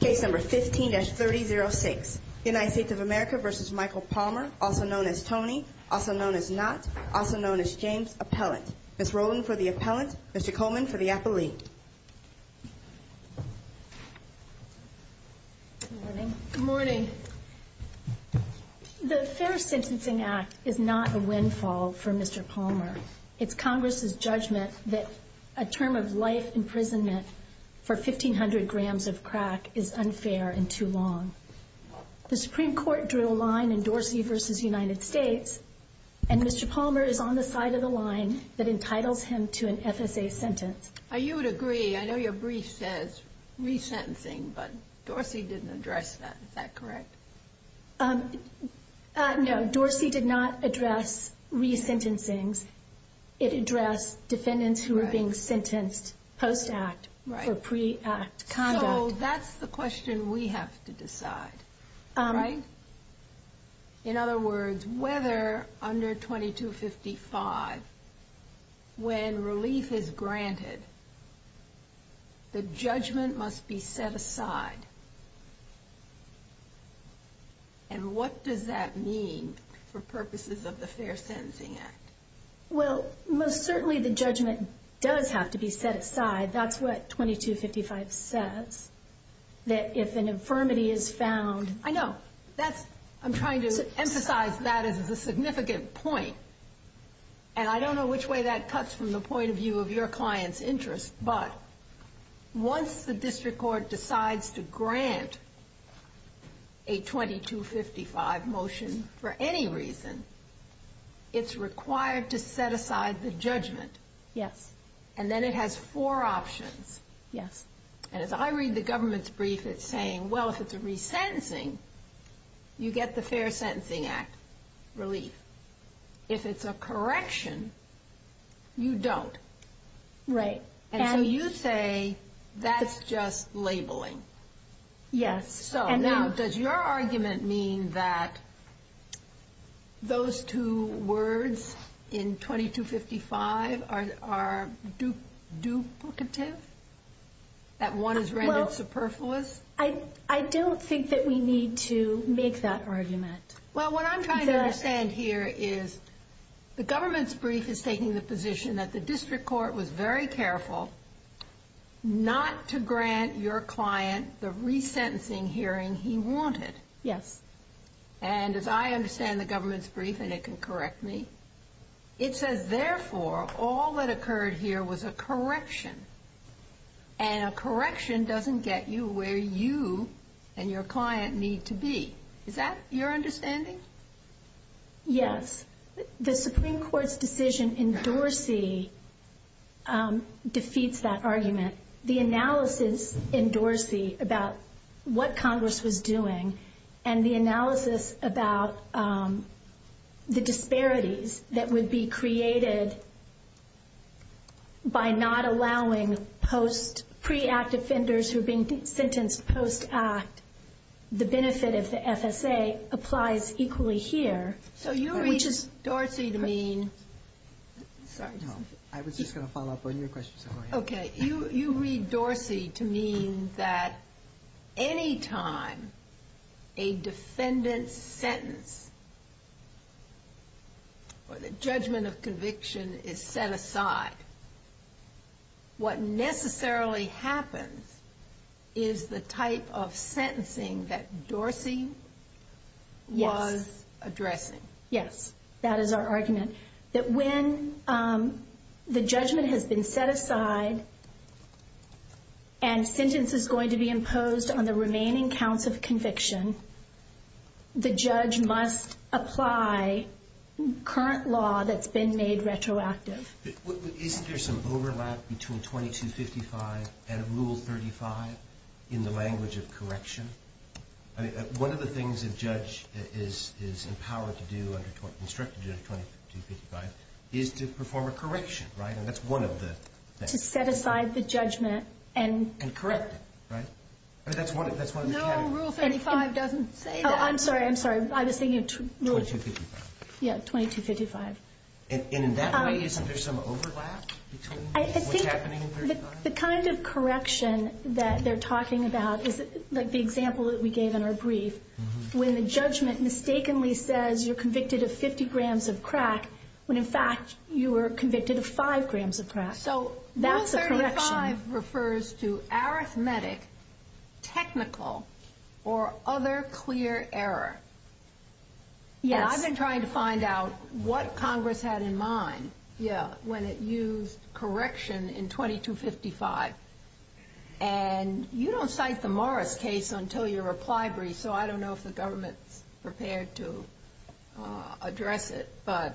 Case number 15-3006. United States of America v. Michael Palmer, also known as Tony, also known as Knott, also known as James, appellant. Ms. Rowland for the appellant, Mr. Coleman for the appellee. Good morning. The Fair Sentencing Act is not a windfall for Mr. Palmer. It's Congress' judgment that a term of life imprisonment for 1,500 grams of crack is unfair and too long. The Supreme Court drew a line in Dorsey v. United States, and Mr. Palmer is on the side of the line that entitles him to an FSA sentence. You would agree. I know your brief says re-sentencing, but Dorsey didn't address that. Is that correct? No, Dorsey did not address re-sentencings. It addressed defendants who were being sentenced post-act for pre-act conduct. So that's the question we have to decide, right? In other words, whether under 2255, when relief is granted, the judgment must be set aside. And what does that mean for purposes of the Fair Sentencing Act? Well, most certainly the judgment does have to be set aside. That's what 2255 says. That if an infirmity is found... I know. I'm trying to emphasize that as a significant point. And I don't know which way that cuts from the point of view of your client's interest. But once the district court decides to grant a 2255 motion for any reason, it's required to set aside the judgment. Yes. And then it has four options. Yes. And as I read the government's brief, it's saying, well, if it's a re-sentencing, you get the Fair Sentencing Act relief. If it's a correction, you don't. Right. And so you say that's just labeling. Yes. So now, does your argument mean that those two words in 2255 are duplicative? That one is rendered superfluous? I don't think that we need to make that argument. Well, what I'm trying to understand here is the government's brief is taking the position that the district court was very careful not to grant your client the re-sentencing hearing he wanted. Yes. And as I understand the government's brief, and it can correct me, it says, therefore, all that occurred here was a correction. And a correction doesn't get you where you and your client need to be. Is that your understanding? Yes. The Supreme Court's decision in Dorsey defeats that argument. The analysis in Dorsey about what Congress was doing and the analysis about the disparities that would be created by not allowing pre-act offenders who are being sentenced post-act, the benefit of the FSA applies equally here. So you read Dorsey to mean that any time a defendant's sentence or the judgment of conviction is set aside, what necessarily happens is the type of sentencing that Dorsey was addressing. Yes. That is our argument. That when the judgment has been set aside and sentence is going to be imposed on the remaining counts of conviction, the judge must apply current law that's been made retroactive. Isn't there some overlap between 2255 and Rule 35 in the language of correction? I mean, one of the things a judge is empowered to do, instructed to do under 2255, is to perform a correction, right? And that's one of the things. To set aside the judgment and... And correct it, right? I mean, that's one of the categories. No, Rule 35 doesn't say that. I'm sorry, I'm sorry. I was thinking of... 2255. Yes, 2255. And in that way, isn't there some overlap between what's happening in Rule 35? I think the kind of correction that they're talking about is like the example that we gave in our brief. When the judgment mistakenly says you're convicted of 50 grams of crack, when in fact you were convicted of 5 grams of crack. So Rule 35 refers to arithmetic, technical, or other clear error. Yes. I wasn't trying to find out what Congress had in mind when it used correction in 2255. And you don't cite the Morris case until your reply brief, so I don't know if the government's prepared to address it, but... Perhaps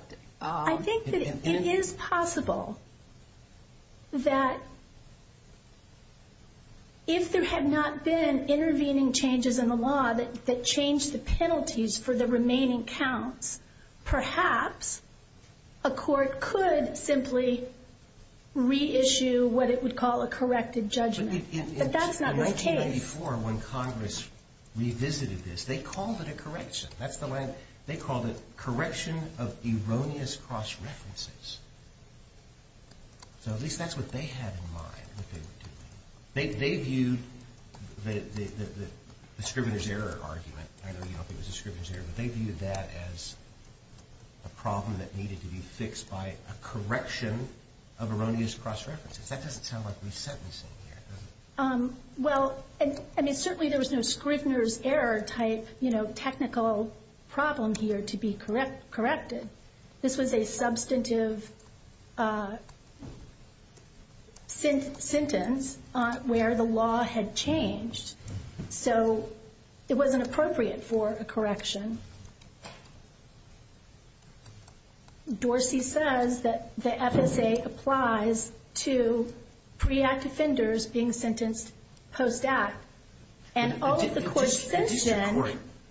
a court could simply reissue what it would call a corrected judgment. But that's not the case. In 1994, when Congress revisited this, they called it a correction. That's the way... They called it correction of erroneous cross-references. So at least that's what they had in mind, what they were doing. They viewed the Scrivener's Error argument, I know you don't think it was a Scrivener's Error, but they viewed that as a problem that needed to be fixed by a correction of erroneous cross-references. That doesn't sound like we sentencing here, does it? Well, certainly there was no Scrivener's Error type technical problem here to be corrected. This was a substantive sentence where the law had changed. So it wasn't appropriate for a correction. Dorsey says that the FSA applies to pre-act offenders being sentenced post-act.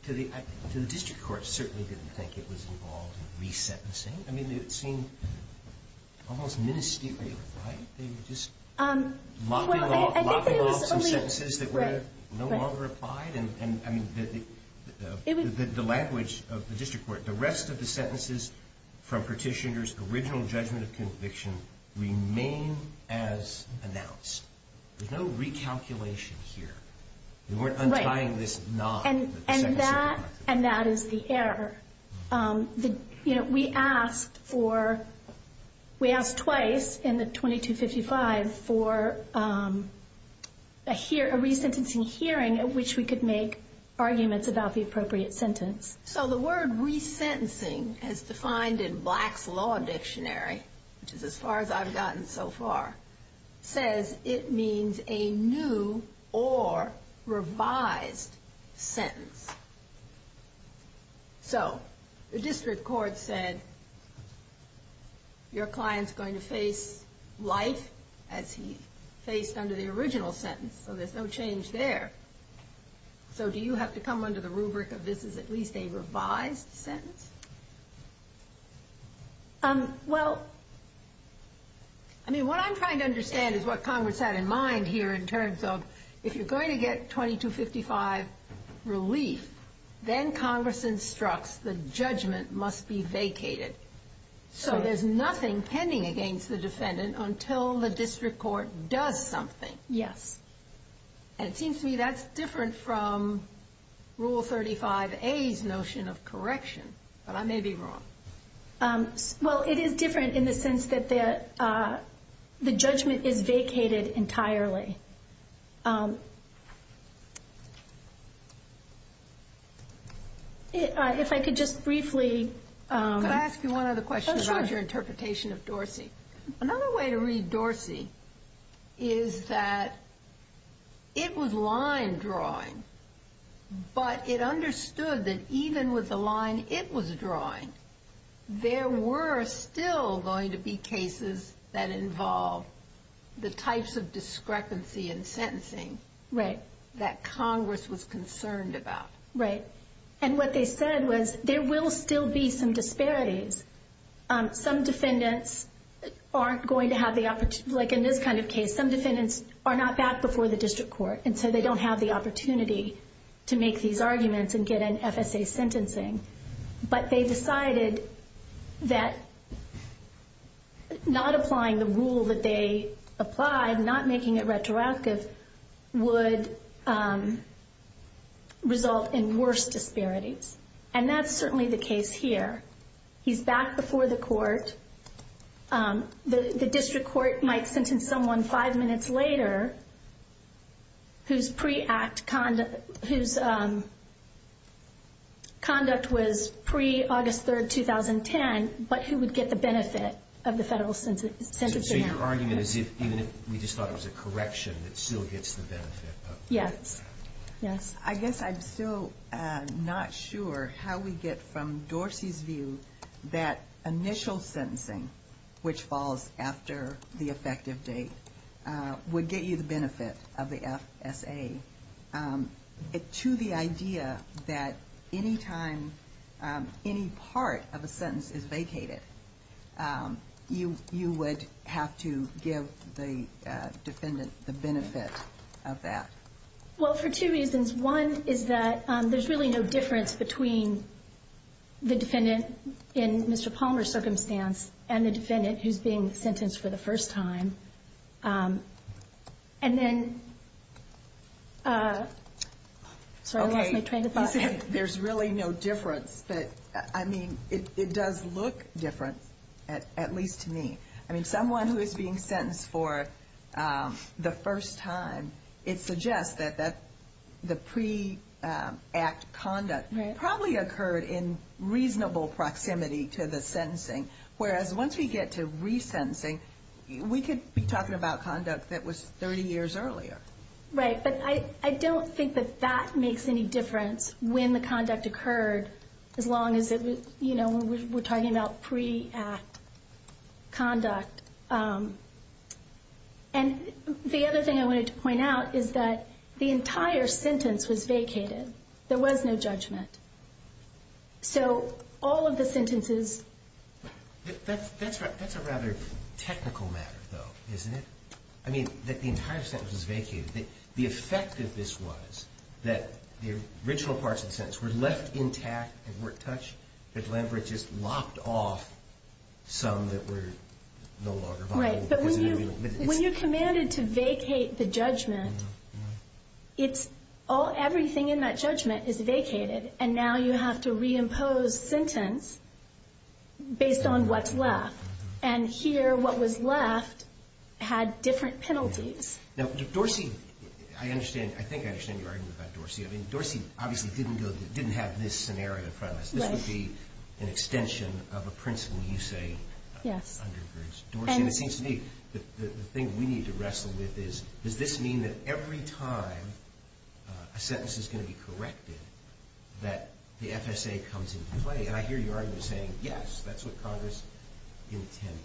To the district court, I certainly didn't think it was involved in re-sentencing. I mean, it seemed almost ministerial, right? They were just mopping off some sentences that were no longer applied? The language of the district court, the rest of the sentences from Petitioner's original judgment of conviction remain as announced. There's no recalculation here. They weren't untying this knot. And that is the error. We asked twice in the 2255 for a re-sentencing hearing at which we could make arguments about the appropriate sentence. So the word re-sentencing, as defined in Black's Law Dictionary, which is as far as I've gotten so far, says it means a new or revised sentence. So the district court said your client's going to face life as he faced under the original sentence. So there's no change there. So do you have to come under the rubric of this is at least a revised sentence? Well, I mean, what I'm trying to understand is what Congress had in mind here in terms of if you're going to get 2255 relief, then Congress instructs the judgment must be vacated. So there's nothing pending against the defendant until the district court does something. Yes. And it seems to me that's different from Rule 35A's notion of correction. But I may be wrong. Well, it is different in the sense that the judgment is vacated entirely. If I could just briefly. Could I ask you one other question about your interpretation of Dorsey? Another way to read Dorsey is that it was line drawing, but it understood that even with the line it was drawing, there were still going to be cases that involve the types of discrepancy in sentencing. Right. That Congress was concerned about. Right. And what they said was there will still be some disparities. Some defendants aren't going to have the opportunity. Like in this kind of case, some defendants are not back before the district court, and so they don't have the opportunity to make these arguments and get an FSA sentencing. But they decided that not applying the rule that they applied, not making it retroactive, would result in worse disparities. And that's certainly the case here. He's back before the court. The district court might sentence someone five minutes later whose conduct was pre-August 3, 2010, but who would get the benefit of the federal sentencing act. So your argument is even if we just thought it was a correction, it still gets the benefit. Yes. I guess I'm still not sure how we get from Dorsey's view that initial sentencing, which falls after the effective date, would get you the benefit of the FSA, to the idea that any time any part of a sentence is vacated, you would have to give the defendant the benefit of that. Well, for two reasons. One is that there's really no difference between the defendant in Mr. Palmer's circumstance and the defendant who's being sentenced for the first time. And then, sorry, I lost my train of thought. There's really no difference. But, I mean, it does look different, at least to me. I mean, someone who is being sentenced for the first time, it suggests that the pre-act conduct probably occurred in reasonable proximity to the sentencing. Whereas once we get to resentencing, we could be talking about conduct that was 30 years earlier. Right. But I don't think that that makes any difference when the conduct occurred, as long as we're talking about pre-act conduct. And the other thing I wanted to point out is that the entire sentence was vacated. There was no judgment. So all of the sentences... That's a rather technical matter, though, isn't it? I mean, that the entire sentence was vacated. The effect of this was that the original parts of the sentence were left intact and weren't touched. But Glenbrook just locked off some that were no longer viable. Right. But when you're commanded to vacate the judgment, everything in that judgment is vacated. And now you have to reimpose sentence based on what's left. And here, what was left had different penalties. Now, Dorsey, I think I understand your argument about Dorsey. I mean, Dorsey obviously didn't have this scenario in front of us. This would be an extension of a principle you say undergirds Dorsey. And it seems to me that the thing we need to wrestle with is, does this mean that every time a sentence is going to be corrected, that the FSA comes into play? And I hear your argument saying, yes, that's what Congress intended.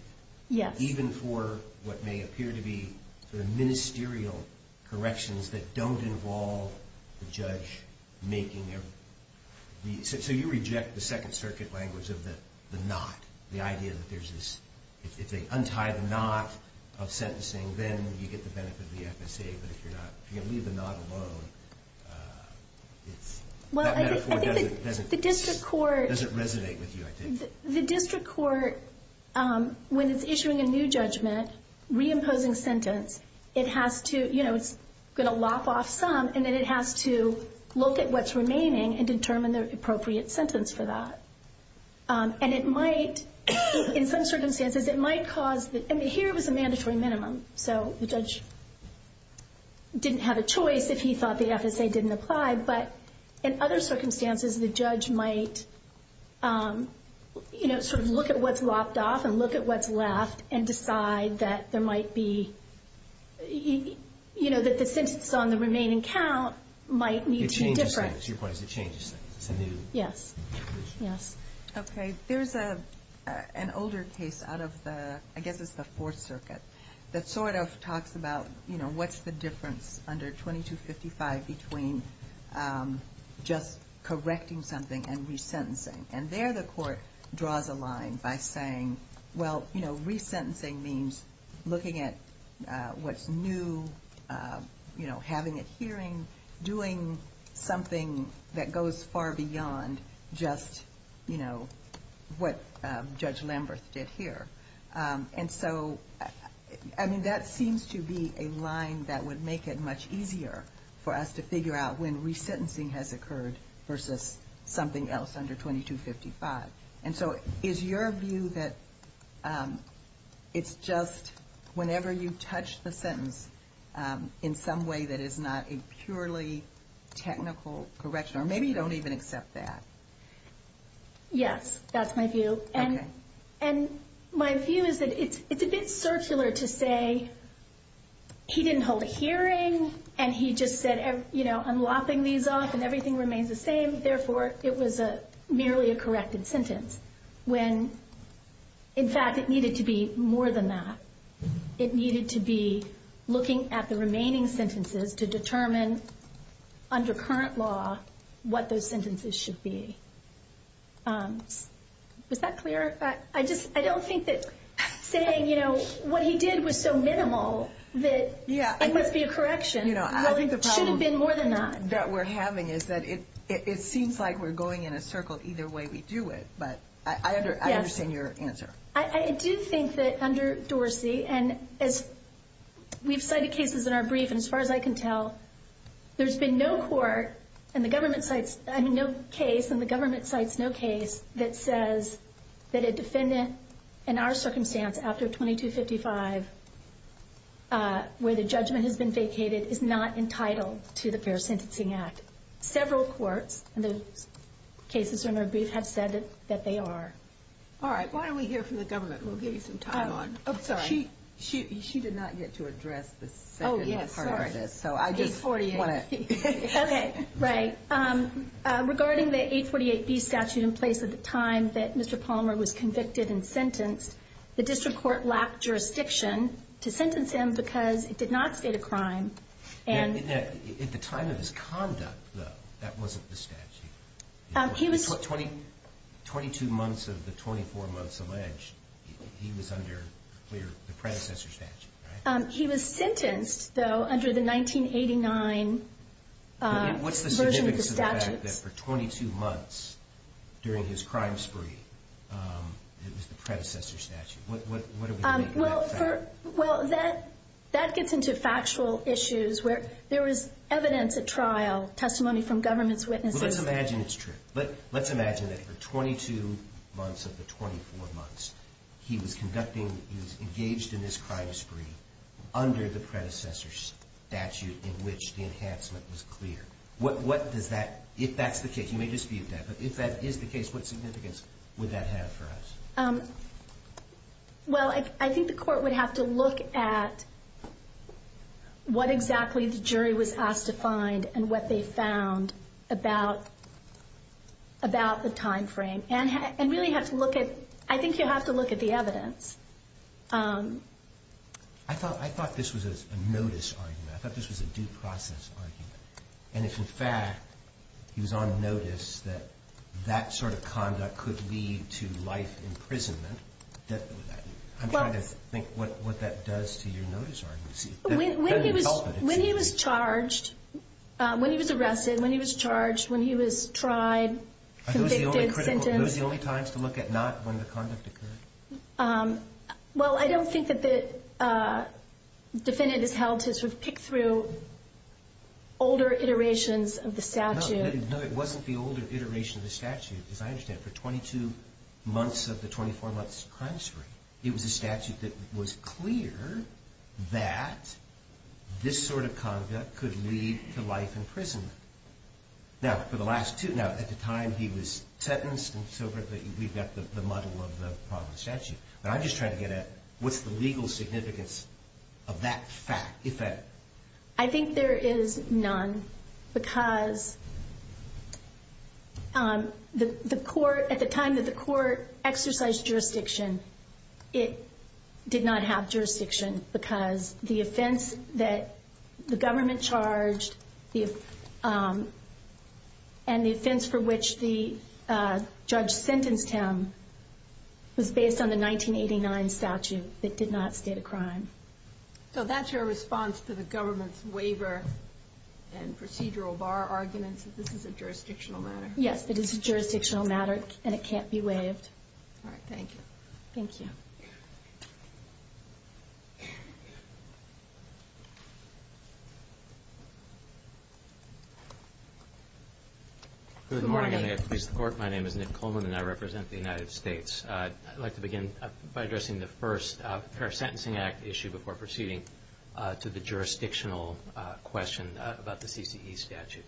Yes. Even for what may appear to be the ministerial corrections that don't involve the judge making every... So you reject the Second Circuit language of the knot, the idea that there's this... If they untie the knot of sentencing, then you get the benefit of the FSA. But if you leave the knot alone, it's... That metaphor doesn't resonate with you, I think. The district court, when it's issuing a new judgment, reimposing sentence, it has to... It's going to lop off some, and then it has to look at what's remaining and determine the appropriate sentence for that. And it might, in some circumstances, it might cause... I mean, here it was a mandatory minimum, so the judge didn't have a choice if he thought the FSA didn't apply. But in other circumstances, the judge might sort of look at what's lopped off and look at what's left and decide that there might be... That the sentence on the remaining count might need to be different. It changes things. It changes things. Yes. Yes. Okay. There's an older case out of the... I guess it's the Fourth Circuit that sort of talks about what's the difference under 2255 between just correcting something and resentencing. And there the court draws a line by saying, well, resentencing means looking at what's new, having it hearing, doing something that goes far beyond just what Judge Lamberth did here. And so, I mean, that seems to be a line that would make it much easier for us to figure out when resentencing has occurred versus something else under 2255. And so is your view that it's just whenever you touch the sentence in some way that is not a purely technical correction? Or maybe you don't even accept that. Yes, that's my view. Okay. And my view is that it's a bit circular to say he didn't hold a hearing and he just said, you know, I'm lopping these off and everything remains the same. Therefore, it was merely a corrected sentence when, in fact, it needed to be more than that. It needed to be looking at the remaining sentences to determine under current law what those sentences should be. Was that clear? I don't think that saying, you know, what he did was so minimal that it must be a correction. Well, it should have been more than that. I think the problem that we're having is that it seems like we're going in a circle either way we do it. But I understand your answer. I do think that under Dorsey, and as we've cited cases in our brief, and as far as I can tell, there's been no court and the government cites no case that says that a defendant, in our circumstance, after 2255, where the judgment has been vacated, is not entitled to the Fair Sentencing Act. Several courts in the cases in our brief have said that they are. All right. Why don't we hear from the government? We'll give you some time on it. She did not get to address the second part of this. So I just want to see. Okay. Right. Regarding the 848B statute in place at the time that Mr. Palmer was convicted and sentenced, the district court lacked jurisdiction to sentence him because it did not state a crime. At the time of his conduct, though, that wasn't the statute. He was 22 months of the 24 months alleged. He was under the predecessor statute, right? He was sentenced, though, under the 1989 version of the statute. What's the significance of the fact that for 22 months during his crime spree, it was the predecessor statute? What do we make of that fact? Well, that gets into factual issues where there is evidence at trial, testimony from government's witnesses. Well, let's imagine it's true. But let's imagine that for 22 months of the 24 months, he was engaged in this crime spree under the predecessor statute in which the enhancement was clear. If that's the case, you may dispute that, but if that is the case, what significance would that have for us? Well, I think the court would have to look at what exactly the jury was asked to find and what they found about the time frame. And really have to look at, I think you have to look at the evidence. I thought this was a notice argument. I thought this was a due process argument. And if, in fact, he was on notice that that sort of conduct could lead to life imprisonment, I'm trying to think what that does to your notice argument. When he was charged, when he was arrested, when he was charged, when he was tried, convicted, sentenced. Are those the only times to look at not when the conduct occurred? Well, I don't think that the defendant is held to sort of pick through older iterations of the statute. No, it wasn't the older iteration of the statute. As I understand, for 22 months of the 24 months crime spree, it was a statute that was clear that this sort of conduct could lead to life imprisonment. Now, for the last two, now, at the time he was sentenced and so forth, we've got the model of the statute. But I'm just trying to get at what's the legal significance of that fact, if that. I think there is none. Because the court at the time that the court exercised jurisdiction, it did not have jurisdiction because the offense that the government charged and the offense for which the judge sentenced him was based on the 1989 statute that did not state a crime. So that's your response to the government's waiver and procedural bar arguments that this is a jurisdictional matter? Yes, it is a jurisdictional matter, and it can't be waived. All right. Thank you. Thank you. Good morning. I'm going to introduce the court. My name is Nick Coleman, and I represent the United States. I'd like to begin by addressing the first Fair Sentencing Act issue before proceeding to the jurisdictional question about the CCE statute.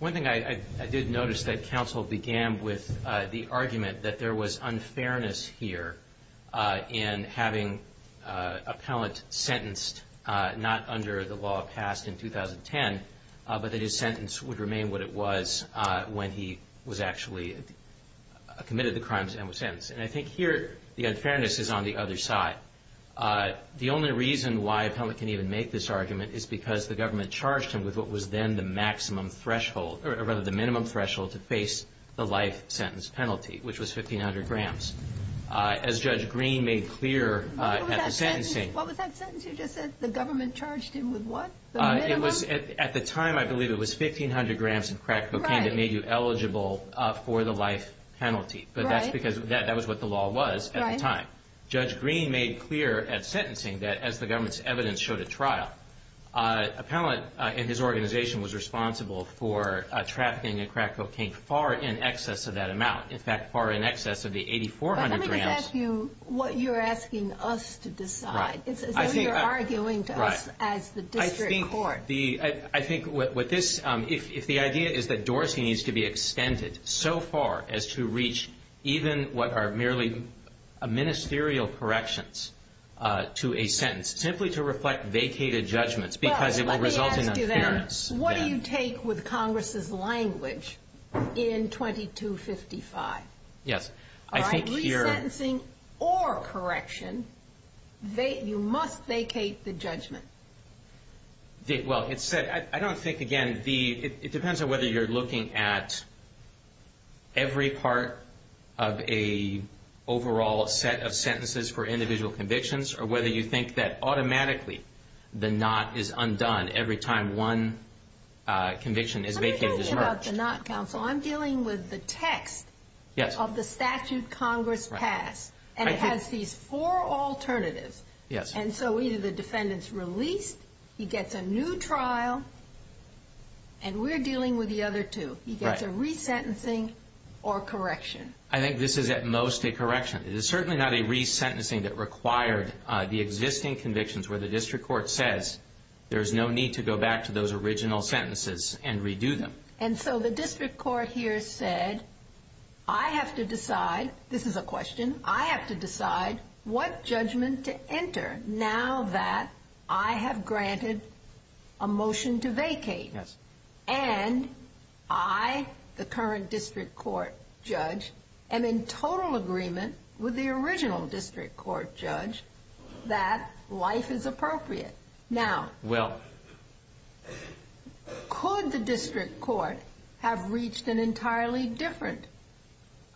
One thing I did notice, that counsel began with the argument that there was unfairness here in having appellant sentenced not under the law passed in 2010, but that his sentence would remain what it was when he was actually committed the crimes and was sentenced. And I think here the unfairness is on the other side. The only reason why appellant can even make this argument is because the government charged him with what was then the maximum threshold, or rather the minimum threshold to face the life sentence penalty, which was 1,500 grams. As Judge Green made clear at the sentencing. What was that sentence you just said? The government charged him with what? At the time, I believe it was 1,500 grams of crack cocaine that made you eligible for the life penalty. But that's because that was what the law was at the time. Judge Green made clear at sentencing that as the government's evidence showed at trial, appellant and his organization was responsible for trafficking in crack cocaine far in excess of that amount. In fact, far in excess of the 8,400 grams. Let me just ask you what you're asking us to decide. It's as though you're arguing to us as the district court. I think if the idea is that Dorsey needs to be extended so far as to reach even what are merely ministerial corrections to a sentence, simply to reflect vacated judgments because it will result in unfairness. What do you take with Congress's language in 2255? Resentencing or correction, you must vacate the judgment. I don't think, again, it depends on whether you're looking at every part of an overall set of sentences for individual convictions or whether you think that automatically the not is undone every time one conviction is vacated. I'm dealing with the text of the statute Congress passed, and it has these four alternatives. And so either the defendant's released, he gets a new trial, and we're dealing with the other two. He gets a resentencing or correction. I think this is at most a correction. It is certainly not a resentencing that required the existing convictions where the district court says there's no need to go back to those original sentences and redo them. And so the district court here said, I have to decide, this is a question, I have to decide what judgment to enter now that I have granted a motion to vacate. Yes. And I, the current district court judge, am in total agreement with the original district court judge that life is appropriate. Now, could the district court have reached an entirely different conclusion?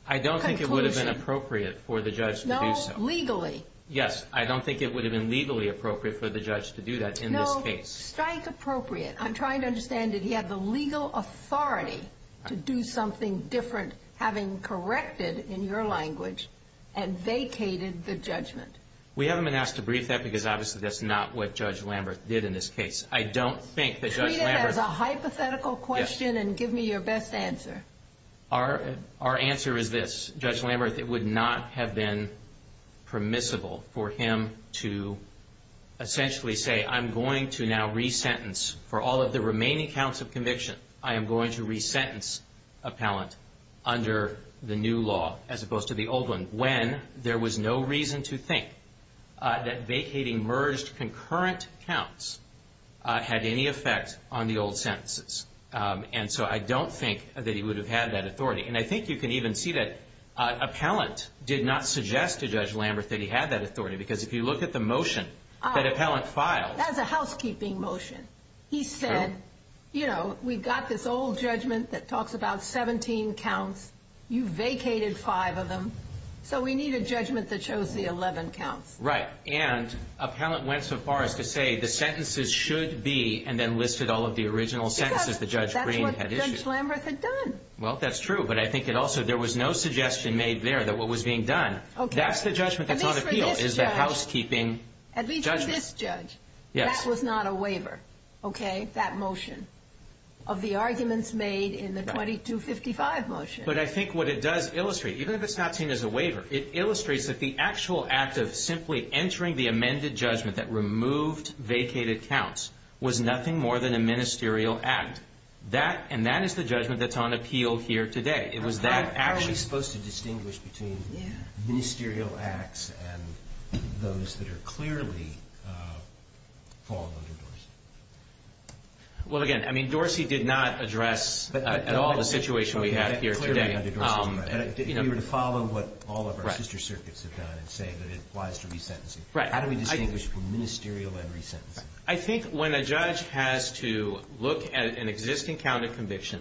I don't think it would have been appropriate for the judge to do so. No, legally. Yes, I don't think it would have been legally appropriate for the judge to do that in this case. No, strike appropriate. I'm trying to understand, did he have the legal authority to do something different, having corrected, in your language, and vacated the judgment? We haven't been asked to brief that because obviously that's not what Judge Lamberth did in this case. I don't think that Judge Lamberth Treat it as a hypothetical question and give me your best answer. Our answer is this. Judge Lamberth, it would not have been permissible for him to essentially say, I'm going to now resentence for all of the remaining counts of conviction. I am going to resentence appellant under the new law, as opposed to the old one, when there was no reason to think that vacating merged concurrent counts had any effect on the old sentences. And so I don't think that he would have had that authority. And I think you can even see that appellant did not suggest to Judge Lamberth that he had that authority, because if you look at the motion that appellant filed. That was a housekeeping motion. He said, you know, we've got this old judgment that talks about 17 counts. You vacated five of them. So we need a judgment that shows the 11 counts. Right. And appellant went so far as to say the sentences should be, and then listed all of the original sentences that Judge Green had issued. Because that's what Judge Lamberth had done. Well, that's true. But I think it also, there was no suggestion made there that what was being done. That's the judgment that's on appeal, is the housekeeping judgment. At least for this judge. Yes. That was not a waiver, okay, that motion of the arguments made in the 2255 motion. But I think what it does illustrate, even if it's not seen as a waiver, it illustrates that the actual act of simply entering the amended judgment that removed vacated counts was nothing more than a ministerial act. And that is the judgment that's on appeal here today. How are we supposed to distinguish between ministerial acts and those that are clearly fallen under Dorsey? Well, again, Dorsey did not address at all the situation we have here today. You were to follow what all of our sister circuits have done and say that it applies to resentencing. How do we distinguish between ministerial and resentencing? I think when a judge has to look at an existing count of conviction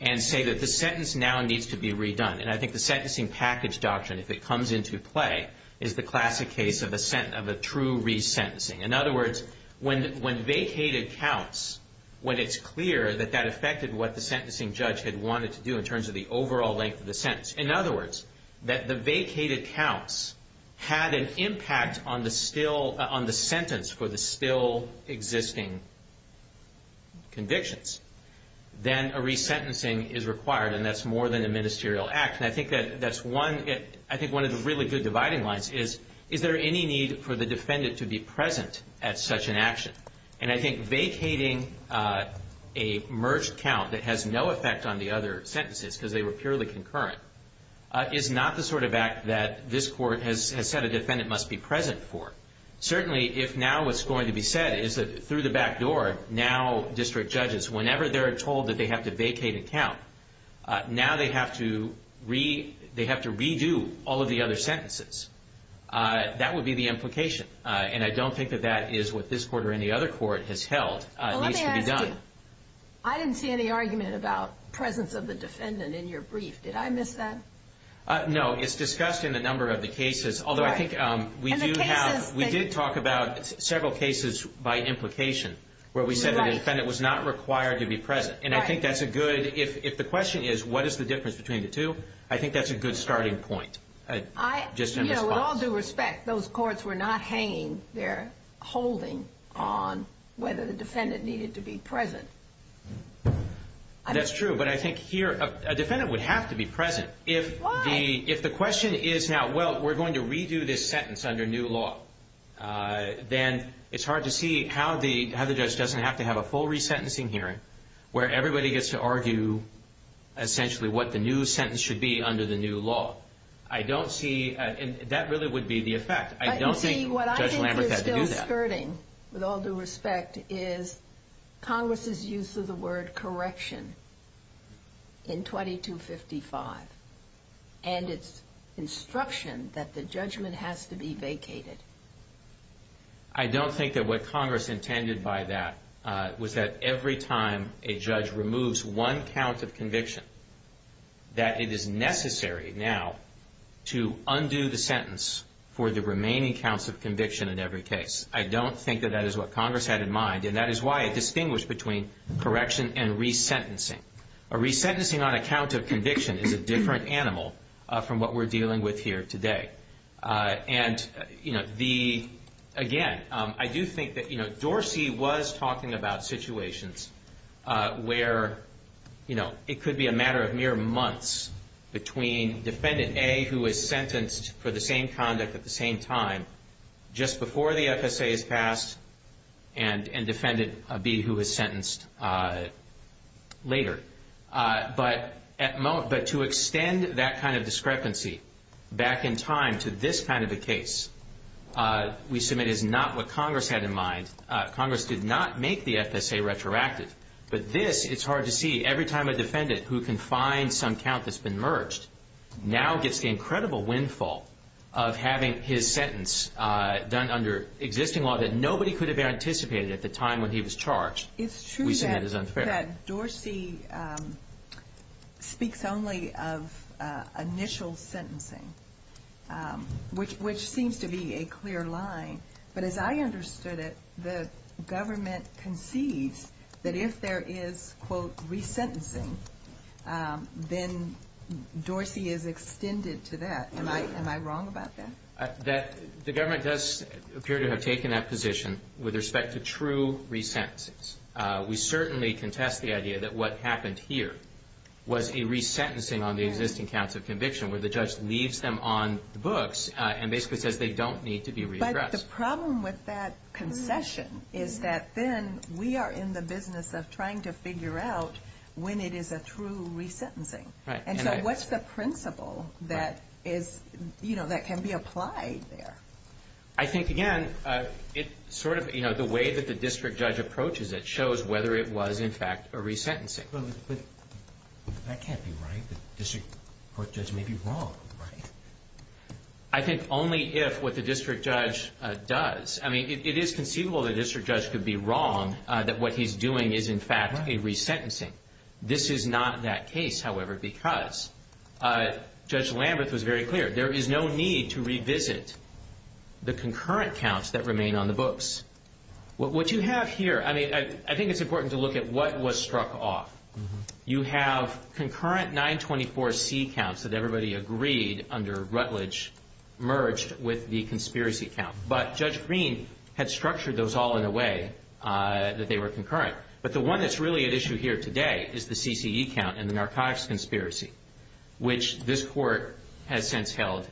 and say that the sentence now needs to be redone, and I think the sentencing package doctrine, if it comes into play, is the classic case of a true resentencing. In other words, when vacated counts, when it's clear that that affected what the sentencing judge had wanted to do in terms of the overall length of the sentence, in other words, that the vacated counts had an impact on the sentence for the still existing convictions, then a resentencing is required, and that's more than a ministerial act. And I think one of the really good dividing lines is, is there any need for the defendant to be present at such an action? And I think vacating a merged count that has no effect on the other sentences because they were purely concurrent is not the sort of act that this Court has said a defendant must be present for. Certainly, if now what's going to be said is that through the back door, now district judges, whenever they're told that they have to vacate a count, now they have to redo all of the other sentences. That would be the implication, and I don't think that that is what this Court or any other Court has held needs to be done. I didn't see any argument about presence of the defendant in your brief. Did I miss that? No, it's discussed in a number of the cases, although I think we do have, we did talk about several cases by implication where we said that a defendant was not required to be present, and I think that's a good, if the question is what is the difference between the two, I think that's a good starting point. You know, with all due respect, those courts were not hanging their holding on whether the defendant needed to be present. That's true, but I think here a defendant would have to be present. Why? If the question is now, well, we're going to redo this sentence under new law, then it's hard to see how the judge doesn't have to have a full resentencing hearing where everybody gets to argue essentially what the new sentence should be under the new law. I don't see, and that really would be the effect. I don't think Judge Lambert had to do that. With all due respect, is Congress' use of the word correction in 2255 and its instruction that the judgment has to be vacated? I don't think that what Congress intended by that was that every time a judge removes one count of conviction that it is necessary now to undo the sentence for the remaining counts of conviction in every case. I don't think that that is what Congress had in mind, and that is why it distinguished between correction and resentencing. A resentencing on a count of conviction is a different animal from what we're dealing with here today. And, again, I do think that Dorsey was talking about situations where it could be a matter of mere months between Defendant A who is sentenced for the same conduct at the same time just before the FSA is passed and Defendant B who is sentenced later. But to extend that kind of discrepancy back in time to this kind of a case, we submit, is not what Congress had in mind. Congress did not make the FSA retroactive. But this, it's hard to see. Every time a defendant who confines some count that's been merged now gets the incredible windfall of having his sentence done under existing law that nobody could have anticipated at the time when he was charged. It's true that Dorsey speaks only of initial sentencing, which seems to be a clear line. But as I understood it, the government concedes that if there is, quote, resentencing, then Dorsey is extended to that. Am I wrong about that? The government does appear to have taken that position with respect to true resentences. We certainly contest the idea that what happened here was a resentencing on the existing counts of conviction where the judge leaves them on the books and basically says they don't need to be re-addressed. But the problem with that concession is that then we are in the business of trying to figure out when it is a true resentencing. And so what's the principle that is, you know, that can be applied there? I think, again, it sort of, you know, the way that the district judge approaches it shows whether it was, in fact, a resentencing. But that can't be right. The district court judge may be wrong. I think only if what the district judge does. I mean, it is conceivable the district judge could be wrong that what he's doing is, in fact, a resentencing. This is not that case, however, because Judge Lambeth was very clear. There is no need to revisit the concurrent counts that remain on the books. What you have here, I mean, I think it's important to look at what was struck off. You have concurrent 924C counts that everybody agreed under Rutledge merged with the conspiracy count. But Judge Green had structured those all in a way that they were concurrent. But the one that's really at issue here today is the CCE count and the narcotics conspiracy, which this court has since held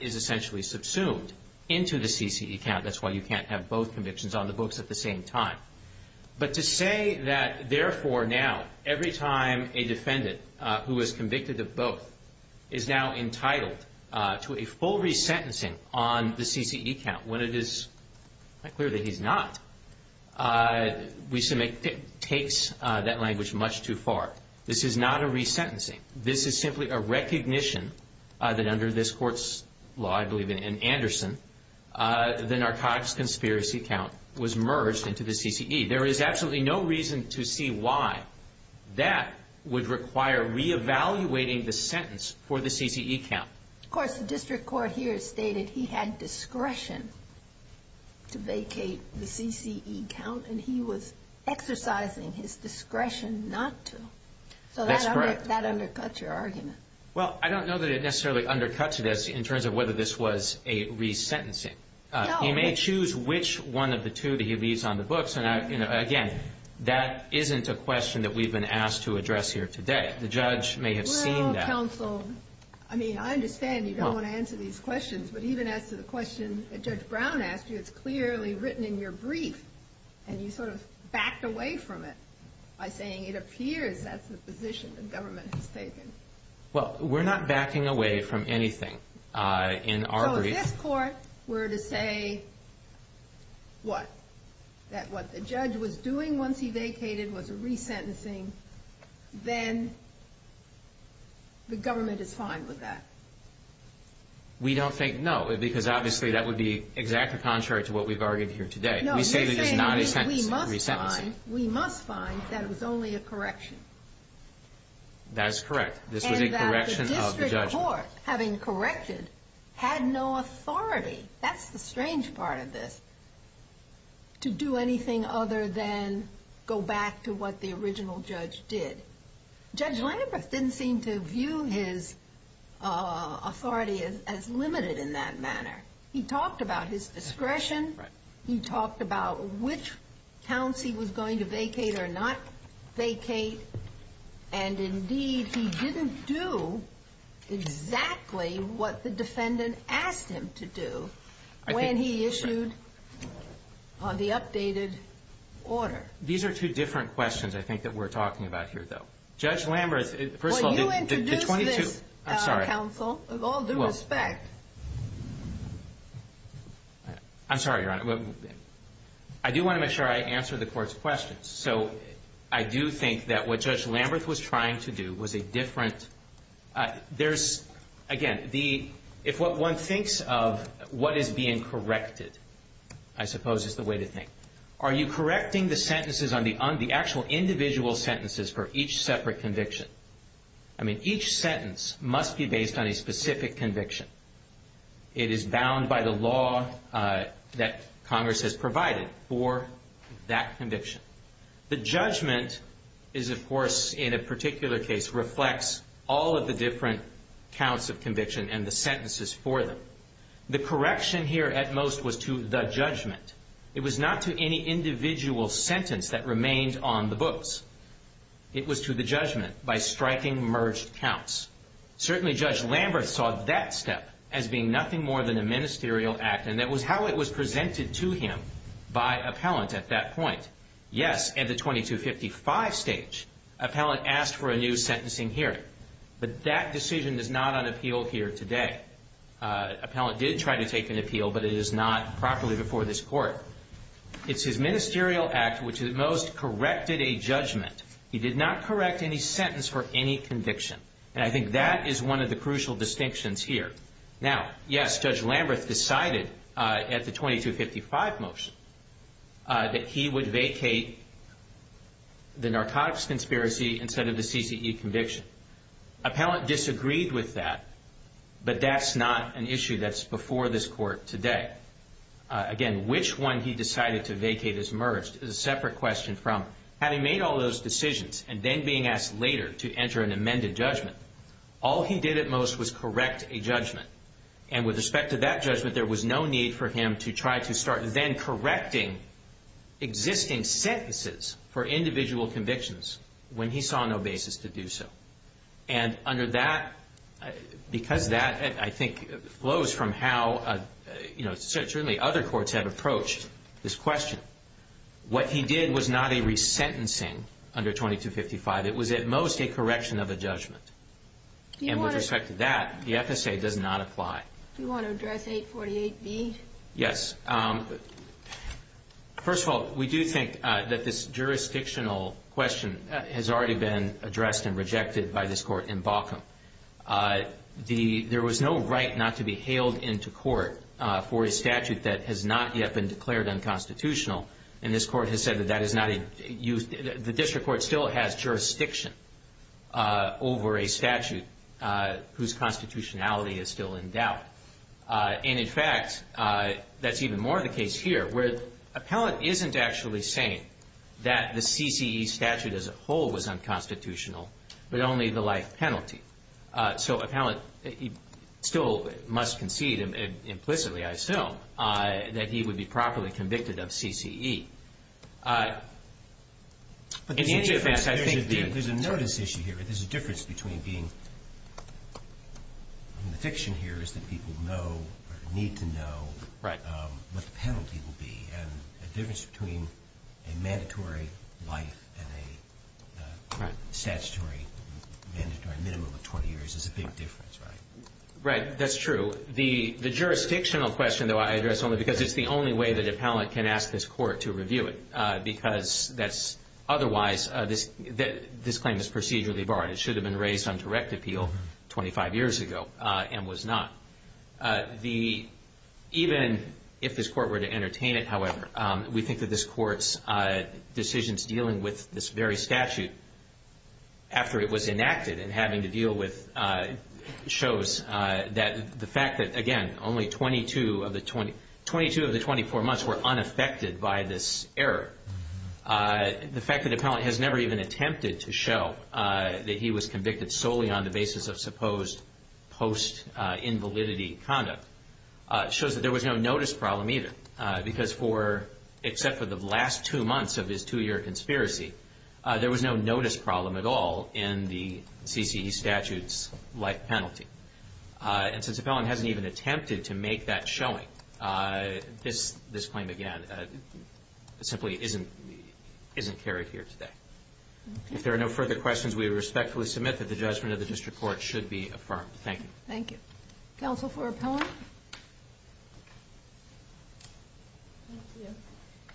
is essentially subsumed into the CCE count. That's why you can't have both convictions on the books at the same time. But to say that, therefore, now, every time a defendant who is convicted of both is now entitled to a full resentencing on the CCE count, when it is clear that he's not, takes that language much too far. This is not a resentencing. This is simply a recognition that under this court's law, I believe in Anderson, the narcotics conspiracy count was merged into the CCE. There is absolutely no reason to see why that would require re-evaluating the sentence for the CCE count. Of course, the district court here stated he had discretion to vacate the CCE count, and he was exercising his discretion not to. That's correct. So that undercuts your argument. Well, I don't know that it necessarily undercuts this in terms of whether this was a resentencing. He may choose which one of the two that he leaves on the books. And, again, that isn't a question that we've been asked to address here today. The judge may have seen that. Well, counsel, I mean, I understand you don't want to answer these questions, but even as to the question that Judge Brown asked you, it's clearly written in your brief, and you sort of backed away from it by saying it appears that's the position the government has taken. Well, we're not backing away from anything in our brief. So if this court were to say, what, that what the judge was doing once he vacated was a resentencing, then the government is fine with that? We don't think no, because obviously that would be exactly contrary to what we've argued here today. No, you're saying we must find that it was only a correction. That is correct. This was a correction of the judgment. And that the district court, having corrected, had no authority. That's the strange part of this, to do anything other than go back to what the original judge did. Judge Lambert didn't seem to view his authority as limited in that manner. He talked about his discretion. He talked about which counts he was going to vacate or not vacate. And, indeed, he didn't do exactly what the defendant asked him to do when he issued the updated order. These are two different questions, I think, that we're talking about here, though. Judge Lambert, first of all, the 22— Well, you introduced this, counsel, with all due respect. I'm sorry, Your Honor. I do want to make sure I answer the court's questions. So I do think that what Judge Lambert was trying to do was a different— There's, again, if what one thinks of what is being corrected, I suppose, is the way to think. Are you correcting the sentences on the actual individual sentences for each separate conviction? I mean, each sentence must be based on a specific conviction. It is bound by the law that Congress has provided for that conviction. The judgment is, of course, in a particular case, reflects all of the different counts of conviction and the sentences for them. The correction here, at most, was to the judgment. It was not to any individual sentence that remained on the books. It was to the judgment by striking merged counts. Certainly, Judge Lambert saw that step as being nothing more than a ministerial act, and that was how it was presented to him by appellant at that point. Yes, at the 2255 stage, appellant asked for a new sentencing hearing. But that decision is not on appeal here today. Appellant did try to take an appeal, but it is not properly before this Court. It's his ministerial act which, at most, corrected a judgment. He did not correct any sentence for any conviction. And I think that is one of the crucial distinctions here. Now, yes, Judge Lambert decided at the 2255 motion that he would vacate the narcotics conspiracy instead of the CCE conviction. Appellant disagreed with that, but that's not an issue that's before this Court today. Again, which one he decided to vacate as merged is a separate question from, having made all those decisions and then being asked later to enter an amended judgment, all he did at most was correct a judgment. And with respect to that judgment, there was no need for him to try to start then correcting existing sentences for individual convictions when he saw no basis to do so. And under that, because that, I think, flows from how certainly other courts have approached this question, what he did was not a resentencing under 2255. It was, at most, a correction of a judgment. And with respect to that, the FSA does not apply. Do you want to address 848B? Yes. First of all, we do think that this jurisdictional question has already been addressed and rejected by this Court in Baucom. There was no right not to be hailed into court for a statute that has not yet been declared unconstitutional, and this Court has said that that is not a use. The district court still has jurisdiction over a statute whose constitutionality is still in doubt. And, in fact, that's even more the case here, where the appellant isn't actually saying that the CCE statute as a whole was unconstitutional, but only the life penalty. So appellant still must concede implicitly, I assume, that he would be properly convicted of CCE. There's a notice issue here. There's a difference between being – I mean, the fiction here is that people know or need to know what the penalty will be. And the difference between a mandatory life and a statutory mandatory minimum of 20 years is a big difference, right? Right. That's true. The jurisdictional question, though, I address only because it's the only way that appellant can ask this Court to review it, because otherwise this claim is procedurally barred. It should have been raised on direct appeal 25 years ago and was not. Even if this Court were to entertain it, however, we think that this Court's decisions dealing with this very statute after it was enacted and having to deal with it shows that the fact that, again, only 22 of the 24 months were unaffected by this error. The fact that appellant has never even attempted to show that he was convicted solely on the basis of supposed post-invalidity conduct shows that there was no notice problem either, because for – except for the last two months of his two-year conspiracy, there was no notice problem at all in the CCE statute's life penalty. And since appellant hasn't even attempted to make that showing, this claim, again, simply isn't carried here today. If there are no further questions, we respectfully submit that the judgment of the District Court should be affirmed. Thank you. Thank you. Counsel for appellant?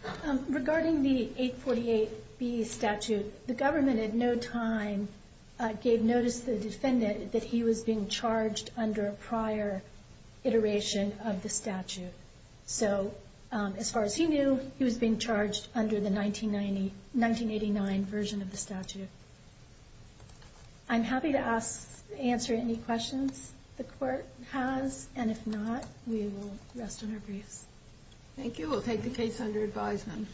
Thank you. Regarding the 848B statute, the government at no time gave notice to the defendant that he was being charged under a prior iteration of the statute. So as far as he knew, he was being charged under the 1990 – 1989 version of the statute. I'm happy to ask – answer any questions the court has, and if not, we will rest on our briefs. Thank you. We'll take the case under advisement.